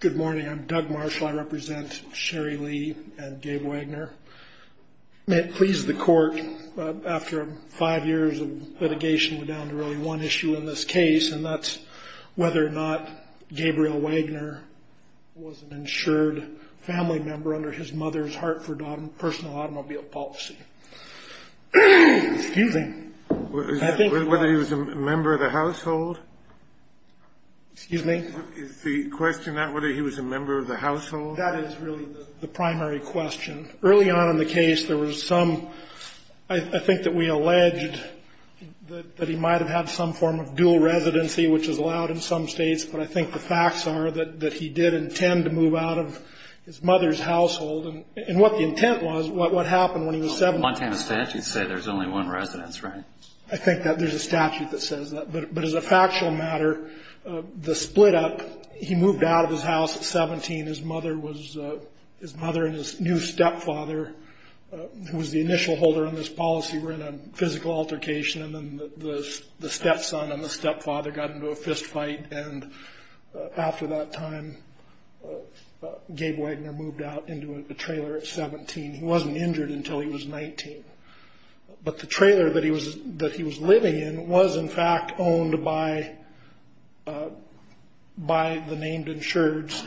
Good morning. I'm Doug Marshall. I represent Sherry Lee and Gabe Wagner. May it please the court, after five years of litigation, we're down to really one issue in this case, and that's whether or not Gabriel Wagner was an insured family member under his mother's Hartford Personal Automobile Policy. Excuse me. Whether he was a member of the household? Excuse me? Is the question that whether he was a member of the household? That is really the primary question. Early on in the case, there was some – I think that we alleged that he might have had some form of dual residency, which is allowed in some states, but I think the facts are that he did intend to move out of his mother's household. And what the intent was, what happened when he was seven – Montana statutes say there's only one residence, right? I think that there's a statute that says that. But as a factual matter, the split up, he moved out of his house at 17. His mother was – his mother and his new stepfather, who was the initial holder on this policy, were in a physical altercation, and then the stepson and the stepfather got into a fistfight, and after that time, Gabe Wagner moved out into a trailer at 17. He wasn't injured until he was 19. But the trailer that he was living in was, in fact, owned by the named insureds,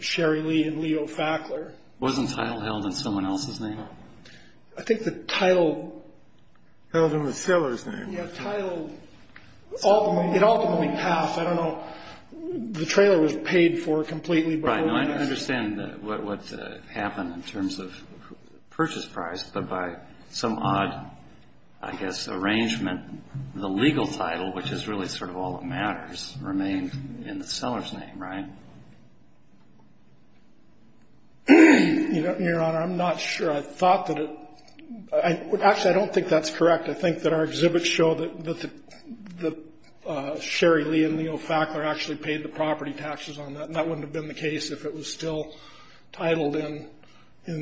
Sherry Lee and Leo Fackler. Wasn't the title held in someone else's name? I think the title – Held in the seller's name. Yeah, title – it ultimately passed. The trailer was paid for completely by – I understand what happened in terms of purchase price, but by some odd, I guess, arrangement, the legal title, which is really sort of all that matters, remained in the seller's name, right? Your Honor, I'm not sure. I thought that it – actually, I don't think that's correct. I think that our exhibits show that Sherry Lee and Leo Fackler actually paid the property taxes on that, and that wouldn't have been the case if it was still titled in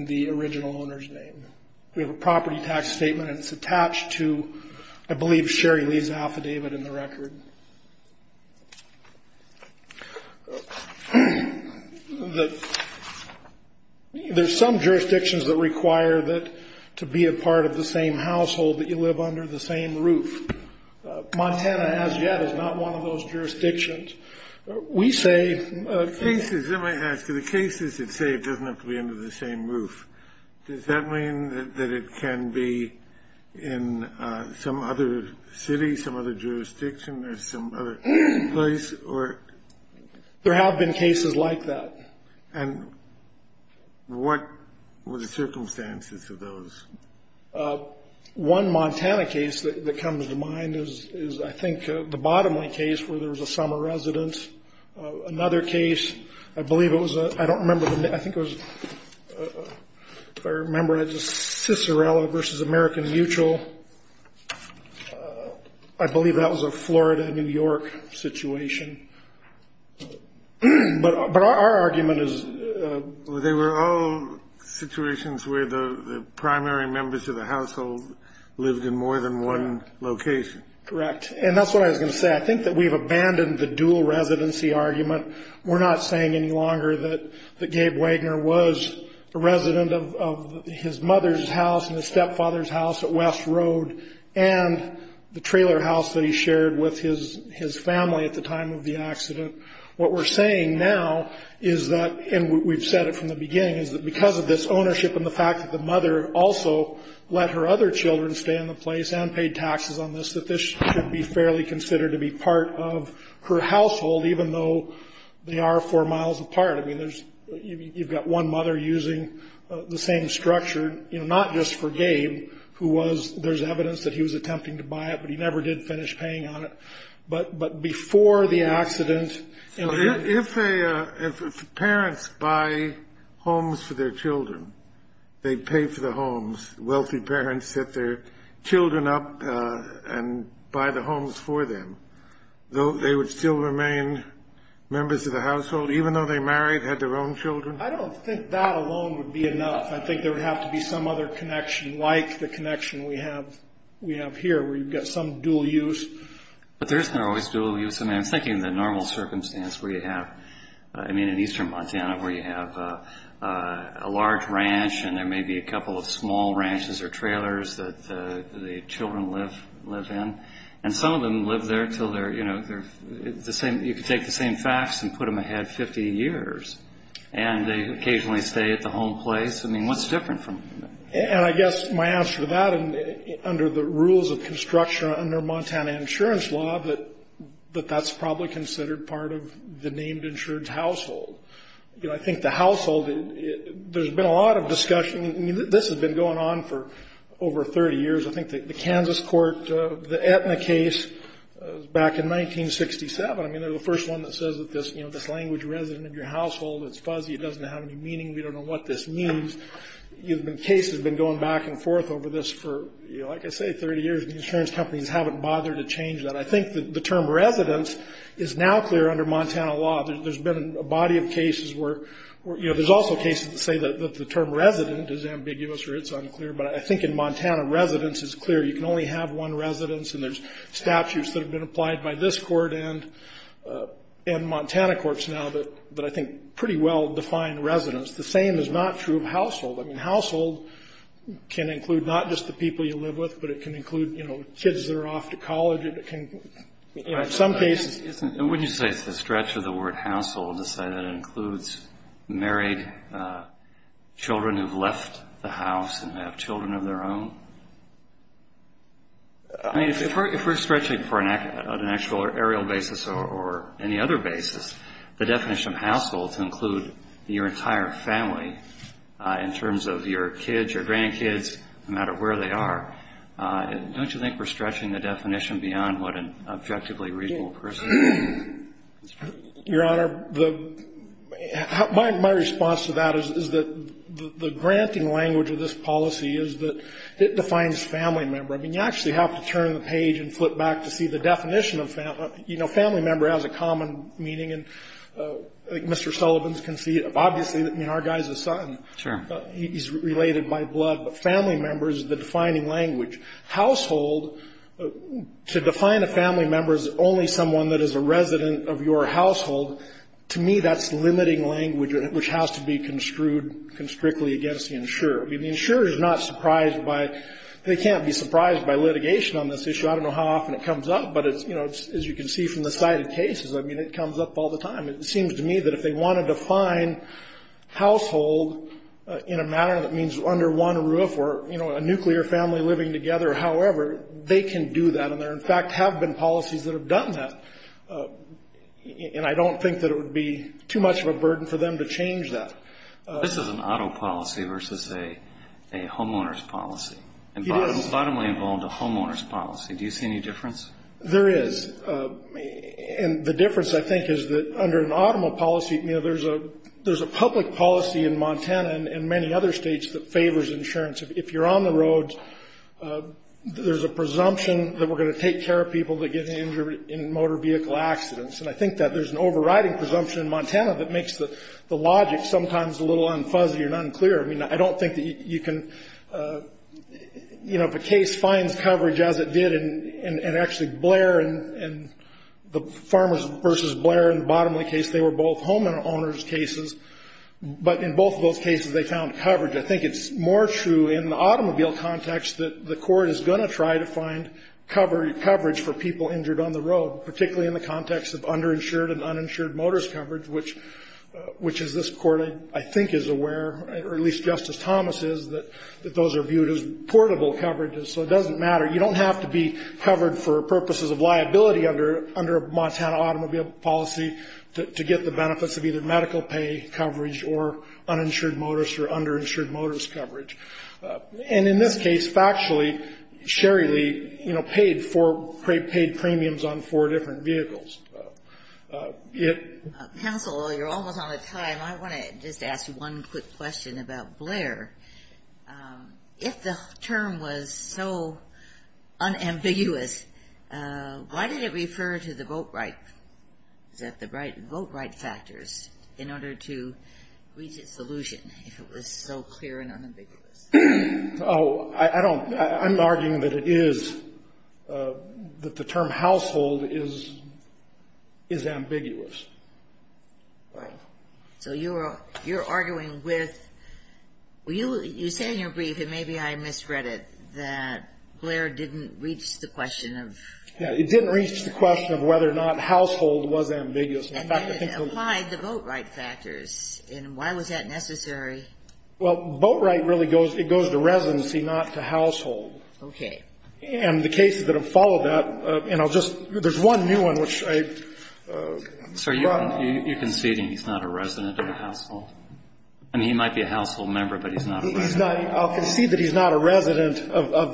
the original owner's name. We have a property tax statement, and it's attached to, I believe, Sherry Lee's affidavit in the record. There's some jurisdictions that require that – to be a part of the same household that you live under the same roof. Montana, as yet, is not one of those jurisdictions. We say – Cases – let me ask you. The cases that say it doesn't have to be under the same roof, does that mean that it can be in some other city, some other jurisdiction, or some other place, or – There have been cases like that. And what were the circumstances of those? One Montana case that comes to mind is, I think, the Bottomling case where there was a summer residence. Another case, I believe it was – I don't remember the name. I think it was – If I remember, it was Cicerella v. American Mutual. I believe that was a Florida, New York situation. But our argument is – They were all situations where the primary members of the household lived in more than one location. Correct. And that's what I was going to say. I think that we've abandoned the dual residency argument. We're not saying any longer that Gabe Wagner was a resident of his mother's house and his stepfather's house at West Road and the trailer house that he shared with his family at the time of the accident. What we're saying now is that – and we've said it from the beginning – is that because of this ownership and the fact that the mother also let her other children stay in the place and paid taxes on this, that this should be fairly considered to be part of her household even though they are four miles apart. I mean, you've got one mother using the same structure, not just for Gabe, who was – there's evidence that he was attempting to buy it, but he never did finish paying on it. But before the accident – If parents buy homes for their children, they pay for the homes. Wealthy parents set their children up and buy the homes for them, though they would still remain members of the household even though they married, had their own children. I don't think that alone would be enough. I think there would have to be some other connection like the connection we have here where you've got some dual use. But there isn't always dual use. I mean, I'm thinking the normal circumstance where you have – I mean, in eastern Montana where you have a large ranch and there may be a couple of small ranches or trailers that the children live in, and some of them live there until they're – you can take the same facts and put them ahead 50 years, and they occasionally stay at the home place. I mean, what's different from – And I guess my answer to that, under the rules of construction under Montana insurance law, that that's probably considered part of the named insurance household. You know, I think the household – there's been a lot of discussion – I mean, this has been going on for over 30 years. I think the Kansas court, the Aetna case back in 1967, I mean, they're the first one that says that this language, resident in your household, it's fuzzy, it doesn't have any meaning, we don't know what this means. Cases have been going back and forth over this for, like I say, 30 years, and the insurance companies haven't bothered to change that. I think the term residence is now clear under Montana law. There's been a body of cases where – you know, there's also cases that say that the term resident is ambiguous or it's unclear, but I think in Montana, residence is clear. You can only have one residence, and there's statutes that have been applied by this court and Montana courts now that I think pretty well define residence. The same is not true of household. I mean, household can include not just the people you live with, but it can include, you know, kids that are off to college. It can – in some cases – And wouldn't you say it's a stretch of the word household to say that it includes married children who've left the house and have children of their own? I mean, if we're stretching for an actual aerial basis or any other basis, the definition of household to include your entire family in terms of your kids, your grandkids, no matter where they are, don't you think we're stretching the definition beyond what an objectively reasonable person would think? Your Honor, the – my response to that is that the granting language of this policy is that it defines family member. I mean, you actually have to turn the page and flip back to see the definition of family. You know, family member has a common meaning, and I think Mr. Sullivan can see it. Obviously, I mean, our guy's a son. Sure. He's related by blood, but family member is the defining language. Household, to define a family member as only someone that is a resident of your household, to me that's limiting language, which has to be construed constrictly against the insurer. I mean, the insurer is not surprised by – they can't be surprised by litigation on this issue. I don't know how often it comes up, but it's – you know, as you can see from the side of cases, I mean, it comes up all the time. It seems to me that if they want to define household in a manner that means there's under one roof or, you know, a nuclear family living together or however, they can do that. And there, in fact, have been policies that have done that. And I don't think that it would be too much of a burden for them to change that. This is an auto policy versus a homeowner's policy. It is. And bottom line involved a homeowner's policy. Do you see any difference? There is. And the difference, I think, is that under an automobile policy, you know, there's a public policy in Montana and many other states that favors insurance. If you're on the roads, there's a presumption that we're going to take care of people that get injured in motor vehicle accidents. And I think that there's an overriding presumption in Montana that makes the logic sometimes a little unfuzzy and unclear. I mean, I don't think that you can – you know, if a case finds coverage as it did and actually Blair and the Farmers versus Blair and the Bottomley case, they were both homeowner's cases. But in both of those cases, they found coverage. I think it's more true in the automobile context that the court is going to try to find coverage for people injured on the road, particularly in the context of underinsured and uninsured motorist coverage, which is this court, I think, is aware, or at least Justice Thomas is, that those are viewed as portable coverages. So it doesn't matter. You don't have to be covered for purposes of liability under a Montana automobile policy to get the benefits of either medical pay coverage or uninsured motorist or underinsured motorist coverage. And in this case, factually, Sherry Lee, you know, paid for – paid premiums on four different vehicles. Counsel, you're almost out of time. I want to just ask you one quick question about Blair. If the term was so unambiguous, why did it refer to the vote right? Is that the right vote right factors in order to reach its solution, if it was so clear and unambiguous? Oh, I don't – I'm arguing that it is – that the term household is ambiguous. Right. So you're arguing with – you say in your brief, and maybe I misread it, that Blair didn't reach the question of – Yeah. It didn't reach the question of whether or not household was ambiguous. And then it applied the vote right factors. And why was that necessary? Well, vote right really goes – it goes to residency, not to household. Okay. And the cases that have followed that – and I'll just – there's one new one, which I brought up. Sir, you're conceding he's not a resident of the household? I mean, he might be a household member, but he's not a resident. He's not – I'll concede that he's not a resident of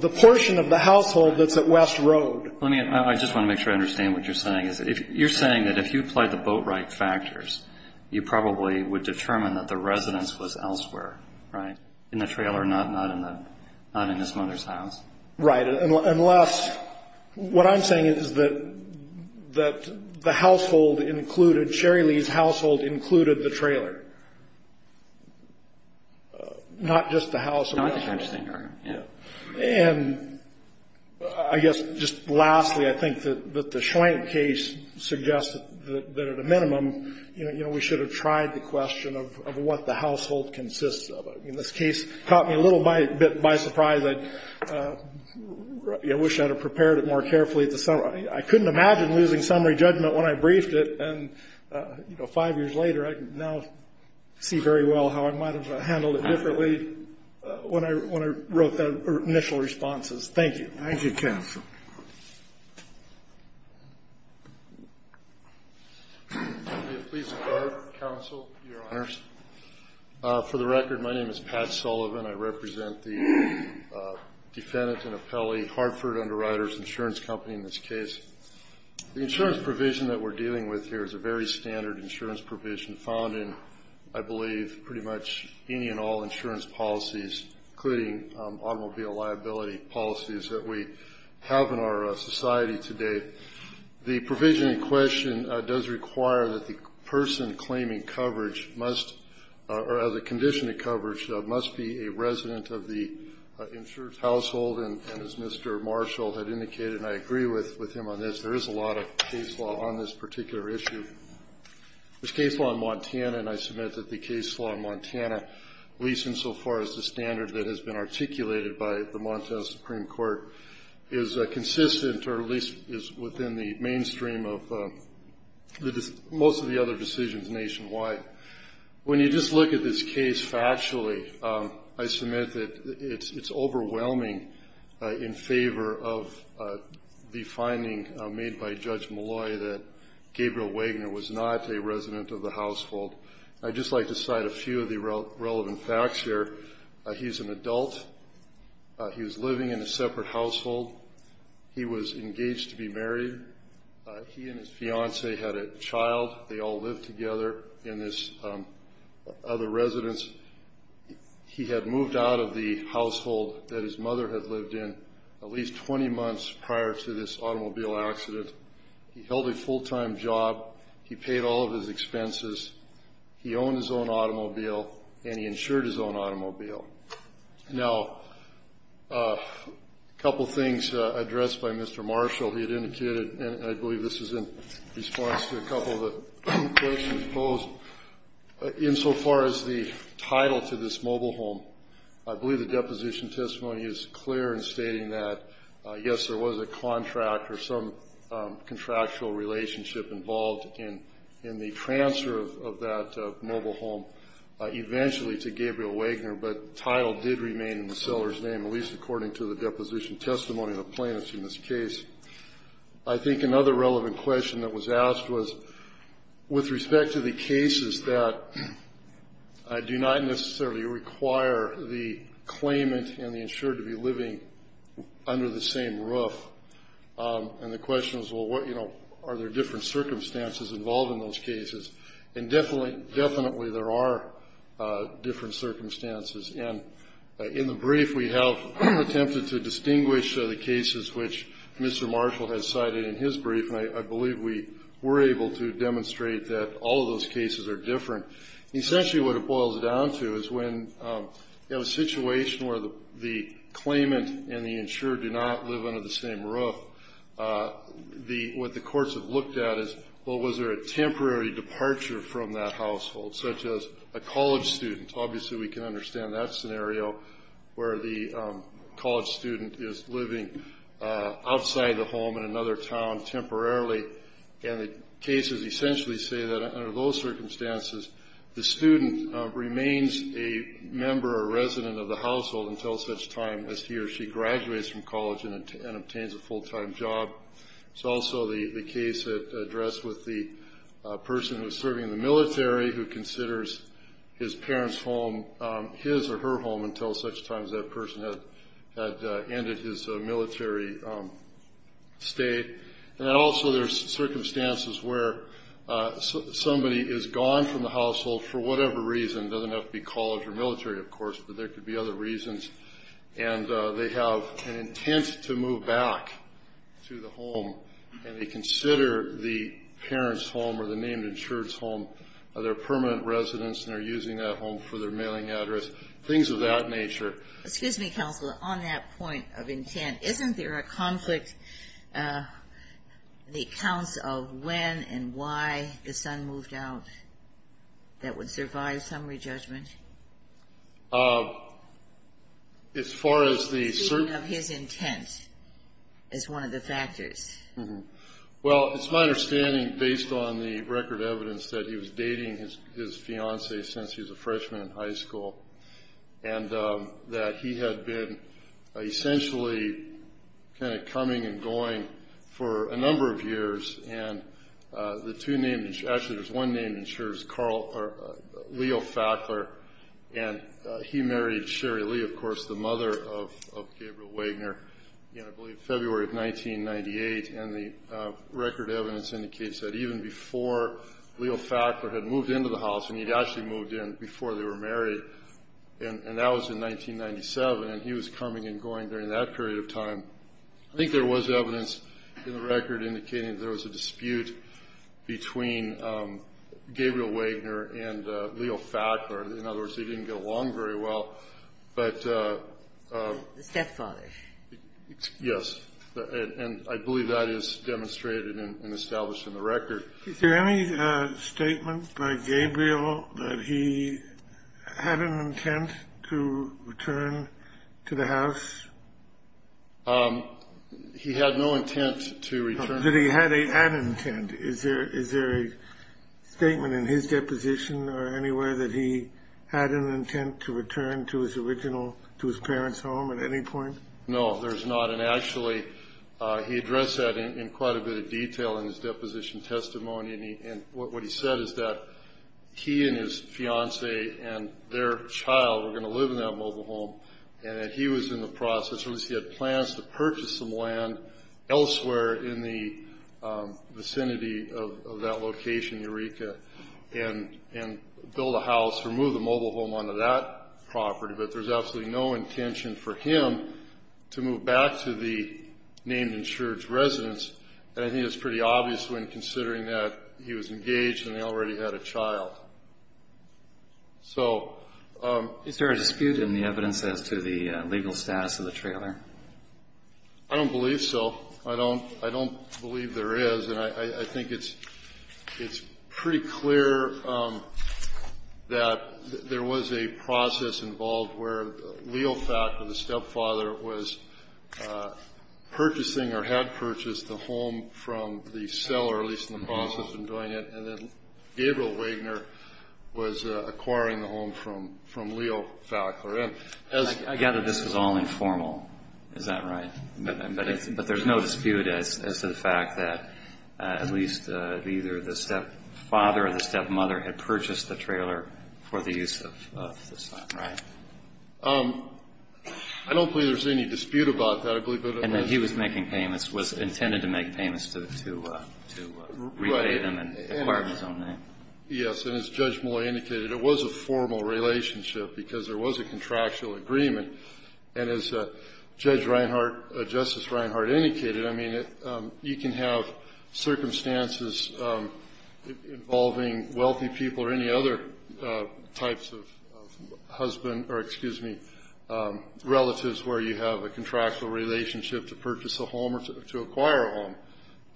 the portion of the household that's at West Road. Let me – I just want to make sure I understand what you're saying. You're saying that if you applied the vote right factors, you probably would determine that the residence was elsewhere, right, in the trailer, not in the – not in his mother's house? Right. Unless – what I'm saying is that the household included – Sherry Lee's household included the trailer, not just the house. Not just the trailer, yeah. And I guess just lastly, I think that the Schwank case suggests that at a minimum, you know, we should have tried the question of what the household consists of. I mean, this case caught me a little bit by surprise. I wish I had prepared it more carefully. I couldn't imagine losing summary judgment when I briefed it. And, you know, five years later, I can now see very well how I might have handled it differently when I wrote the initial responses. Thank you. Thank you, counsel. Please record, counsel, your honors. For the record, my name is Pat Sullivan. I represent the defendant and appellee Hartford Underwriters Insurance Company in this case. The insurance provision that we're dealing with here is a very standard insurance provision found in, I believe, pretty much any and all insurance policies, including automobile liability policies that we have in our society today. The provision in question does require that the person claiming coverage must or the condition of coverage must be a resident of the insured household. And as Mr. Marshall had indicated, and I agree with him on this, there is a lot of case law on this particular issue. There's case law in Montana, and I submit that the case law in Montana, at least insofar as the standard that has been articulated by the Montana Supreme Court, is consistent or at least is within the mainstream of most of the other decisions nationwide. When you just look at this case factually, I submit that it's overwhelming in favor of the finding made by Judge Malloy that Gabriel Wagner was not a resident of the household. I'd just like to cite a few of the relevant facts here. He's an adult. He was living in a separate household. He was engaged to be married. He and his fiancée had a child. They all lived together in this other residence. He had moved out of the household that his mother had lived in at least 20 months prior to this automobile accident. He held a full-time job. He paid all of his expenses. He owned his own automobile, and he insured his own automobile. Now, a couple things addressed by Mr. Marshall. He had indicated, and I believe this is in response to a couple of the questions posed, insofar as the title to this mobile home. I believe the deposition testimony is clear in stating that, yes, there was a contract or some contractual relationship involved in the transfer of that mobile home eventually to Gabriel Wagner, but the title did remain in the seller's name, at least according to the deposition testimony of the plaintiffs in this case. I think another relevant question that was asked was with respect to the cases that do not necessarily require the claimant and the insured to be living under the same roof, and the question was, well, what, you know, are there different circumstances involved in those cases? And definitely there are different circumstances, and in the brief we have attempted to distinguish the cases which Mr. Marshall has cited in his brief, and I believe we were able to demonstrate that all of those cases are different. Essentially what it boils down to is when you have a situation where the claimant and the insured do not live under the same roof, what the courts have looked at is, well, was there a temporary departure from that household, such as a college student? Obviously we can understand that scenario where the college student is living outside the home in another town temporarily, and the cases essentially say that under those circumstances the student remains a member or resident of the household until such time as he or she graduates from college and obtains a full-time job. It's also the case addressed with the person who is serving in the military who considers his parent's home his or her home until such time as that person had ended his military state. And then also there's circumstances where somebody is gone from the household for whatever reason. It doesn't have to be college or military, of course, but there could be other reasons, and they have an intent to move back to the home, and they consider the parent's home or the named insured's home their permanent residence and are using that home for their mailing address, things of that nature. Excuse me, Counselor, on that point of intent, isn't there a conflict in the accounts of when and why the son moved out that would survive summary judgment? As far as the certain of his intent is one of the factors. Well, it's my understanding, based on the record evidence, that he was dating his fiancée since he was a freshman in high school and that he had been essentially kind of coming and going for a number of years. Actually, there's one named insured, Leo Fackler, and he married Sherry Lee, of course, the mother of Gabriel Wagner, I believe February of 1998, and the record evidence indicates that even before Leo Fackler had moved into the house, and he'd actually moved in before they were married, and that was in 1997, and he was coming and going during that period of time. I think there was evidence in the record indicating that there was a dispute between Gabriel Wagner and Leo Fackler. In other words, they didn't get along very well, but... The stepfather. Yes, and I believe that is demonstrated and established in the record. Is there any statement by Gabriel that he had an intent to return to the house? He had no intent to return. Did he have an intent? Is there a statement in his deposition or anywhere that he had an intent to return to his original, to his parents' home at any point? No, there's not, and actually, he addressed that in quite a bit of detail in his deposition testimony, and what he said is that he and his fiancée and their child were going to live in that mobile home, and that he was in the process, or at least he had plans to purchase some land elsewhere in the vicinity of that location, Eureka, and build a house or move the mobile home onto that property, but there's absolutely no intention for him to move back to the named insured residence, and I think it's pretty obvious when considering that he was engaged and they already had a child. So... Is there a dispute in the evidence as to the legal status of the trailer? I don't believe so. I don't believe there is, and I think it's pretty clear that there was a process involved where Leo Fackler, the stepfather, was purchasing or had purchased the home from the seller, at least in the process of doing it, and then Gabriel Wagner was acquiring the home from Leo Fackler. I gather this was all informal. Is that right? But there's no dispute as to the fact that at least either the stepfather or the stepmother had purchased the trailer for the use of the son. Right. I don't believe there's any dispute about that. And that he was making payments, was intended to make payments to repay them and acquire them in his own name. Yes. And as Judge Malloy indicated, it was a formal relationship because there was a contractual agreement, and as Judge Reinhart, Justice Reinhart indicated, I mean, you can have circumstances involving wealthy people or any other types of husband or, excuse me, relatives where you have a contractual relationship to purchase a home or to acquire a home.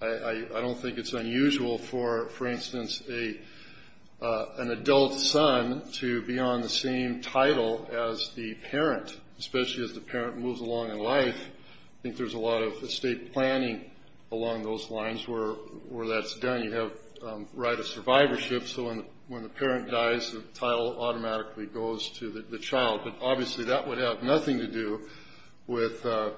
I don't think it's unusual for, for instance, an adult son to be on the same title as the parent, especially as the parent moves along in life. I think there's a lot of estate planning along those lines where that's done. You have right of survivorship, so when the parent dies, the title automatically goes to the child. But obviously that would have nothing to do with or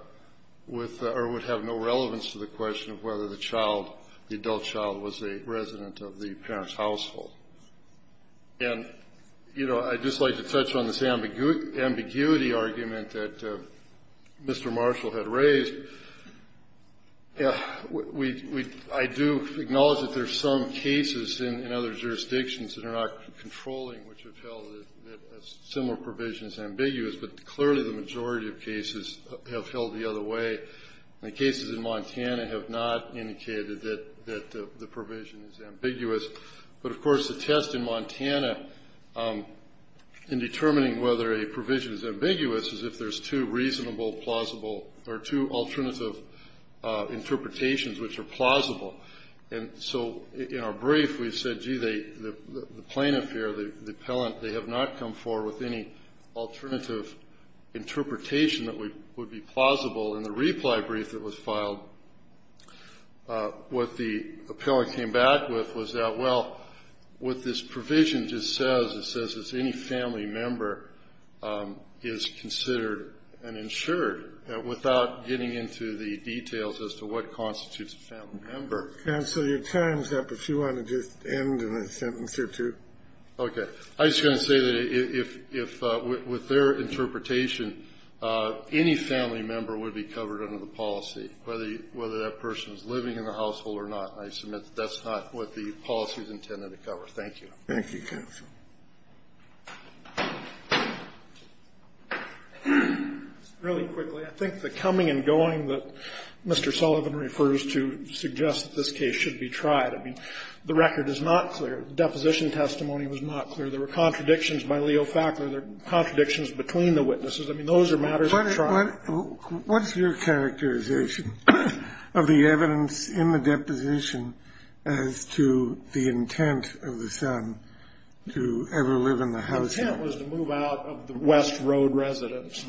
would have no relevance to the question of whether the child, the adult child, was a resident of the parent's household. And, you know, I'd just like to touch on this ambiguity argument that Mr. Marshall had raised. I do acknowledge that there are some cases in other jurisdictions that are not controlling, which have held that a similar provision is ambiguous, but clearly the majority of cases have held the other way. And the cases in Montana have not indicated that the provision is ambiguous. But, of course, the test in Montana in determining whether a provision is ambiguous is if there's two reasonable, plausible, or two alternative interpretations which are plausible. And so in our brief we said, gee, the plaintiff here, the appellant, they have not come forward with any alternative interpretation that would be plausible. In the reply brief that was filed, what the appellant came back with was that, well, what this provision just says, it says that any family member is considered an insured, without getting into the details as to what constitutes a family member. Kennedy. Counsel, your time is up. If you want to just end in a sentence or two. Okay. I'm just going to say that if, with their interpretation, any family member would be covered under the policy, whether that person is living in the household or not. And I submit that that's not what the policy is intended to cover. Thank you. Kennedy. Thank you, counsel. Really quickly, I think the coming and going that Mr. Sullivan refers to suggests that this case should be tried, I mean, the record is not clear. The deposition testimony was not clear. There were contradictions by Leo Fackler. There are contradictions between the witnesses. I mean, those are matters of trial. Kennedy. What's your characterization of the evidence in the deposition as to the intent of the son to ever live in the household? The intent was to move out of the West Road residence.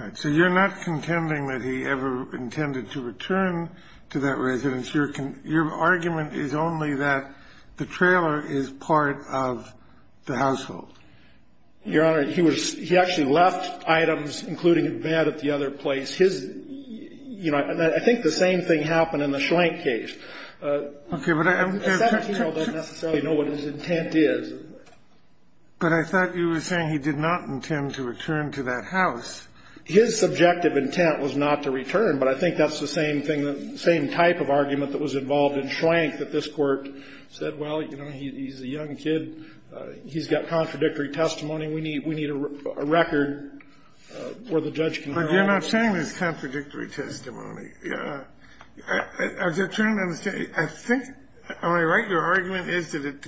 All right. So you're not contending that he ever intended to return to that residence. Your argument is only that the trailer is part of the household. Your Honor, he was he actually left items, including a bed at the other place. His, you know, I think the same thing happened in the Schlenk case. Okay. The 17-year-old doesn't necessarily know what his intent is. But I thought you were saying he did not intend to return to that house. His subjective intent was not to return, but I think that's the same thing, the same type of argument that was involved in Schlenk that this Court said, well, you know, he's a young kid. He's got contradictory testimony. We need a record where the judge can draw. But you're not saying there's contradictory testimony. I was just trying to understand. I think, am I right, your argument is that it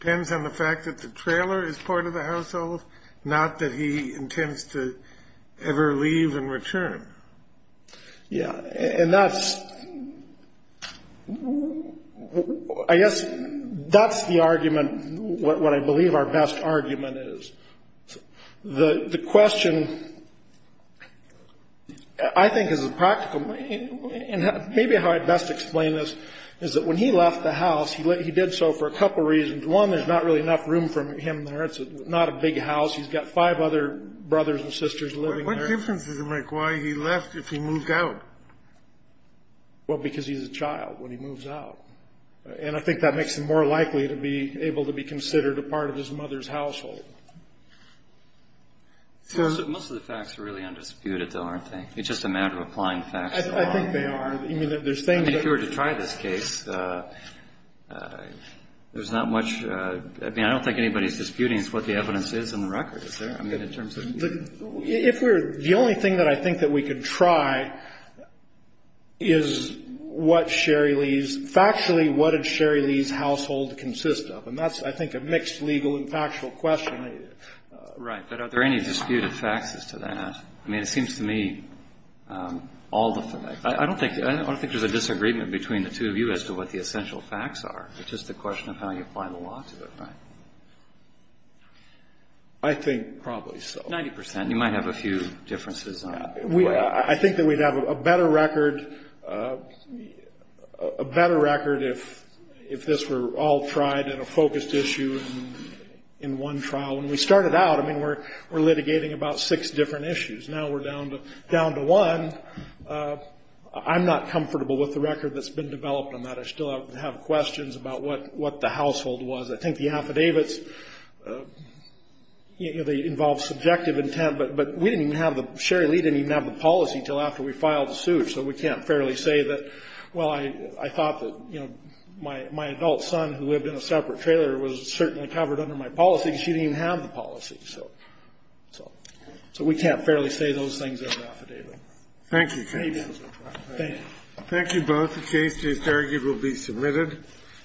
depends on the fact that the trailer is part of the household, not that he intends to ever leave and return. Yeah. And that's, I guess, that's the argument, what I believe our best argument is. The question, I think, is a practical one. And maybe how I'd best explain this is that when he left the house, he did so for a couple reasons. One, there's not really enough room for him there. It's not a big house. He's got five other brothers and sisters living there. What difference does it make why he left if he moved out? Well, because he's a child when he moves out. And I think that makes him more likely to be able to be considered a part of his mother's household. Most of the facts are really undisputed, though, aren't they? It's just a matter of applying facts. I think they are. I mean, if you were to try this case, there's not much. I mean, I don't think anybody's disputing what the evidence is in the record, is there? The only thing that I think that we could try is what Sherry Lee's – factually, what did Sherry Lee's household consist of? And that's, I think, a mixed legal and factual question. Right. But are there any disputed facts as to that? I mean, it seems to me all the – I don't think there's a disagreement between the two of you as to what the essential facts are. It's just a question of how you apply the law to it, right? I think probably so. Ninety percent. You might have a few differences on that. I think that we'd have a better record if this were all tried in a focused issue in one trial. When we started out, I mean, we're litigating about six different issues. Now we're down to one. I'm not comfortable with the record that's been developed on that. I still have questions about what the household was. I think the affidavits, you know, they involve subjective intent. But we didn't even have the – Sherry Lee didn't even have the policy until after we filed the suit. So we can't fairly say that, well, I thought that, you know, my adult son, who lived in a separate trailer, was certainly covered under my policy, and she didn't even have the policy. So we can't fairly say those things in an affidavit. Thank you. Thank you. Thank you both. The case is argued will be submitted.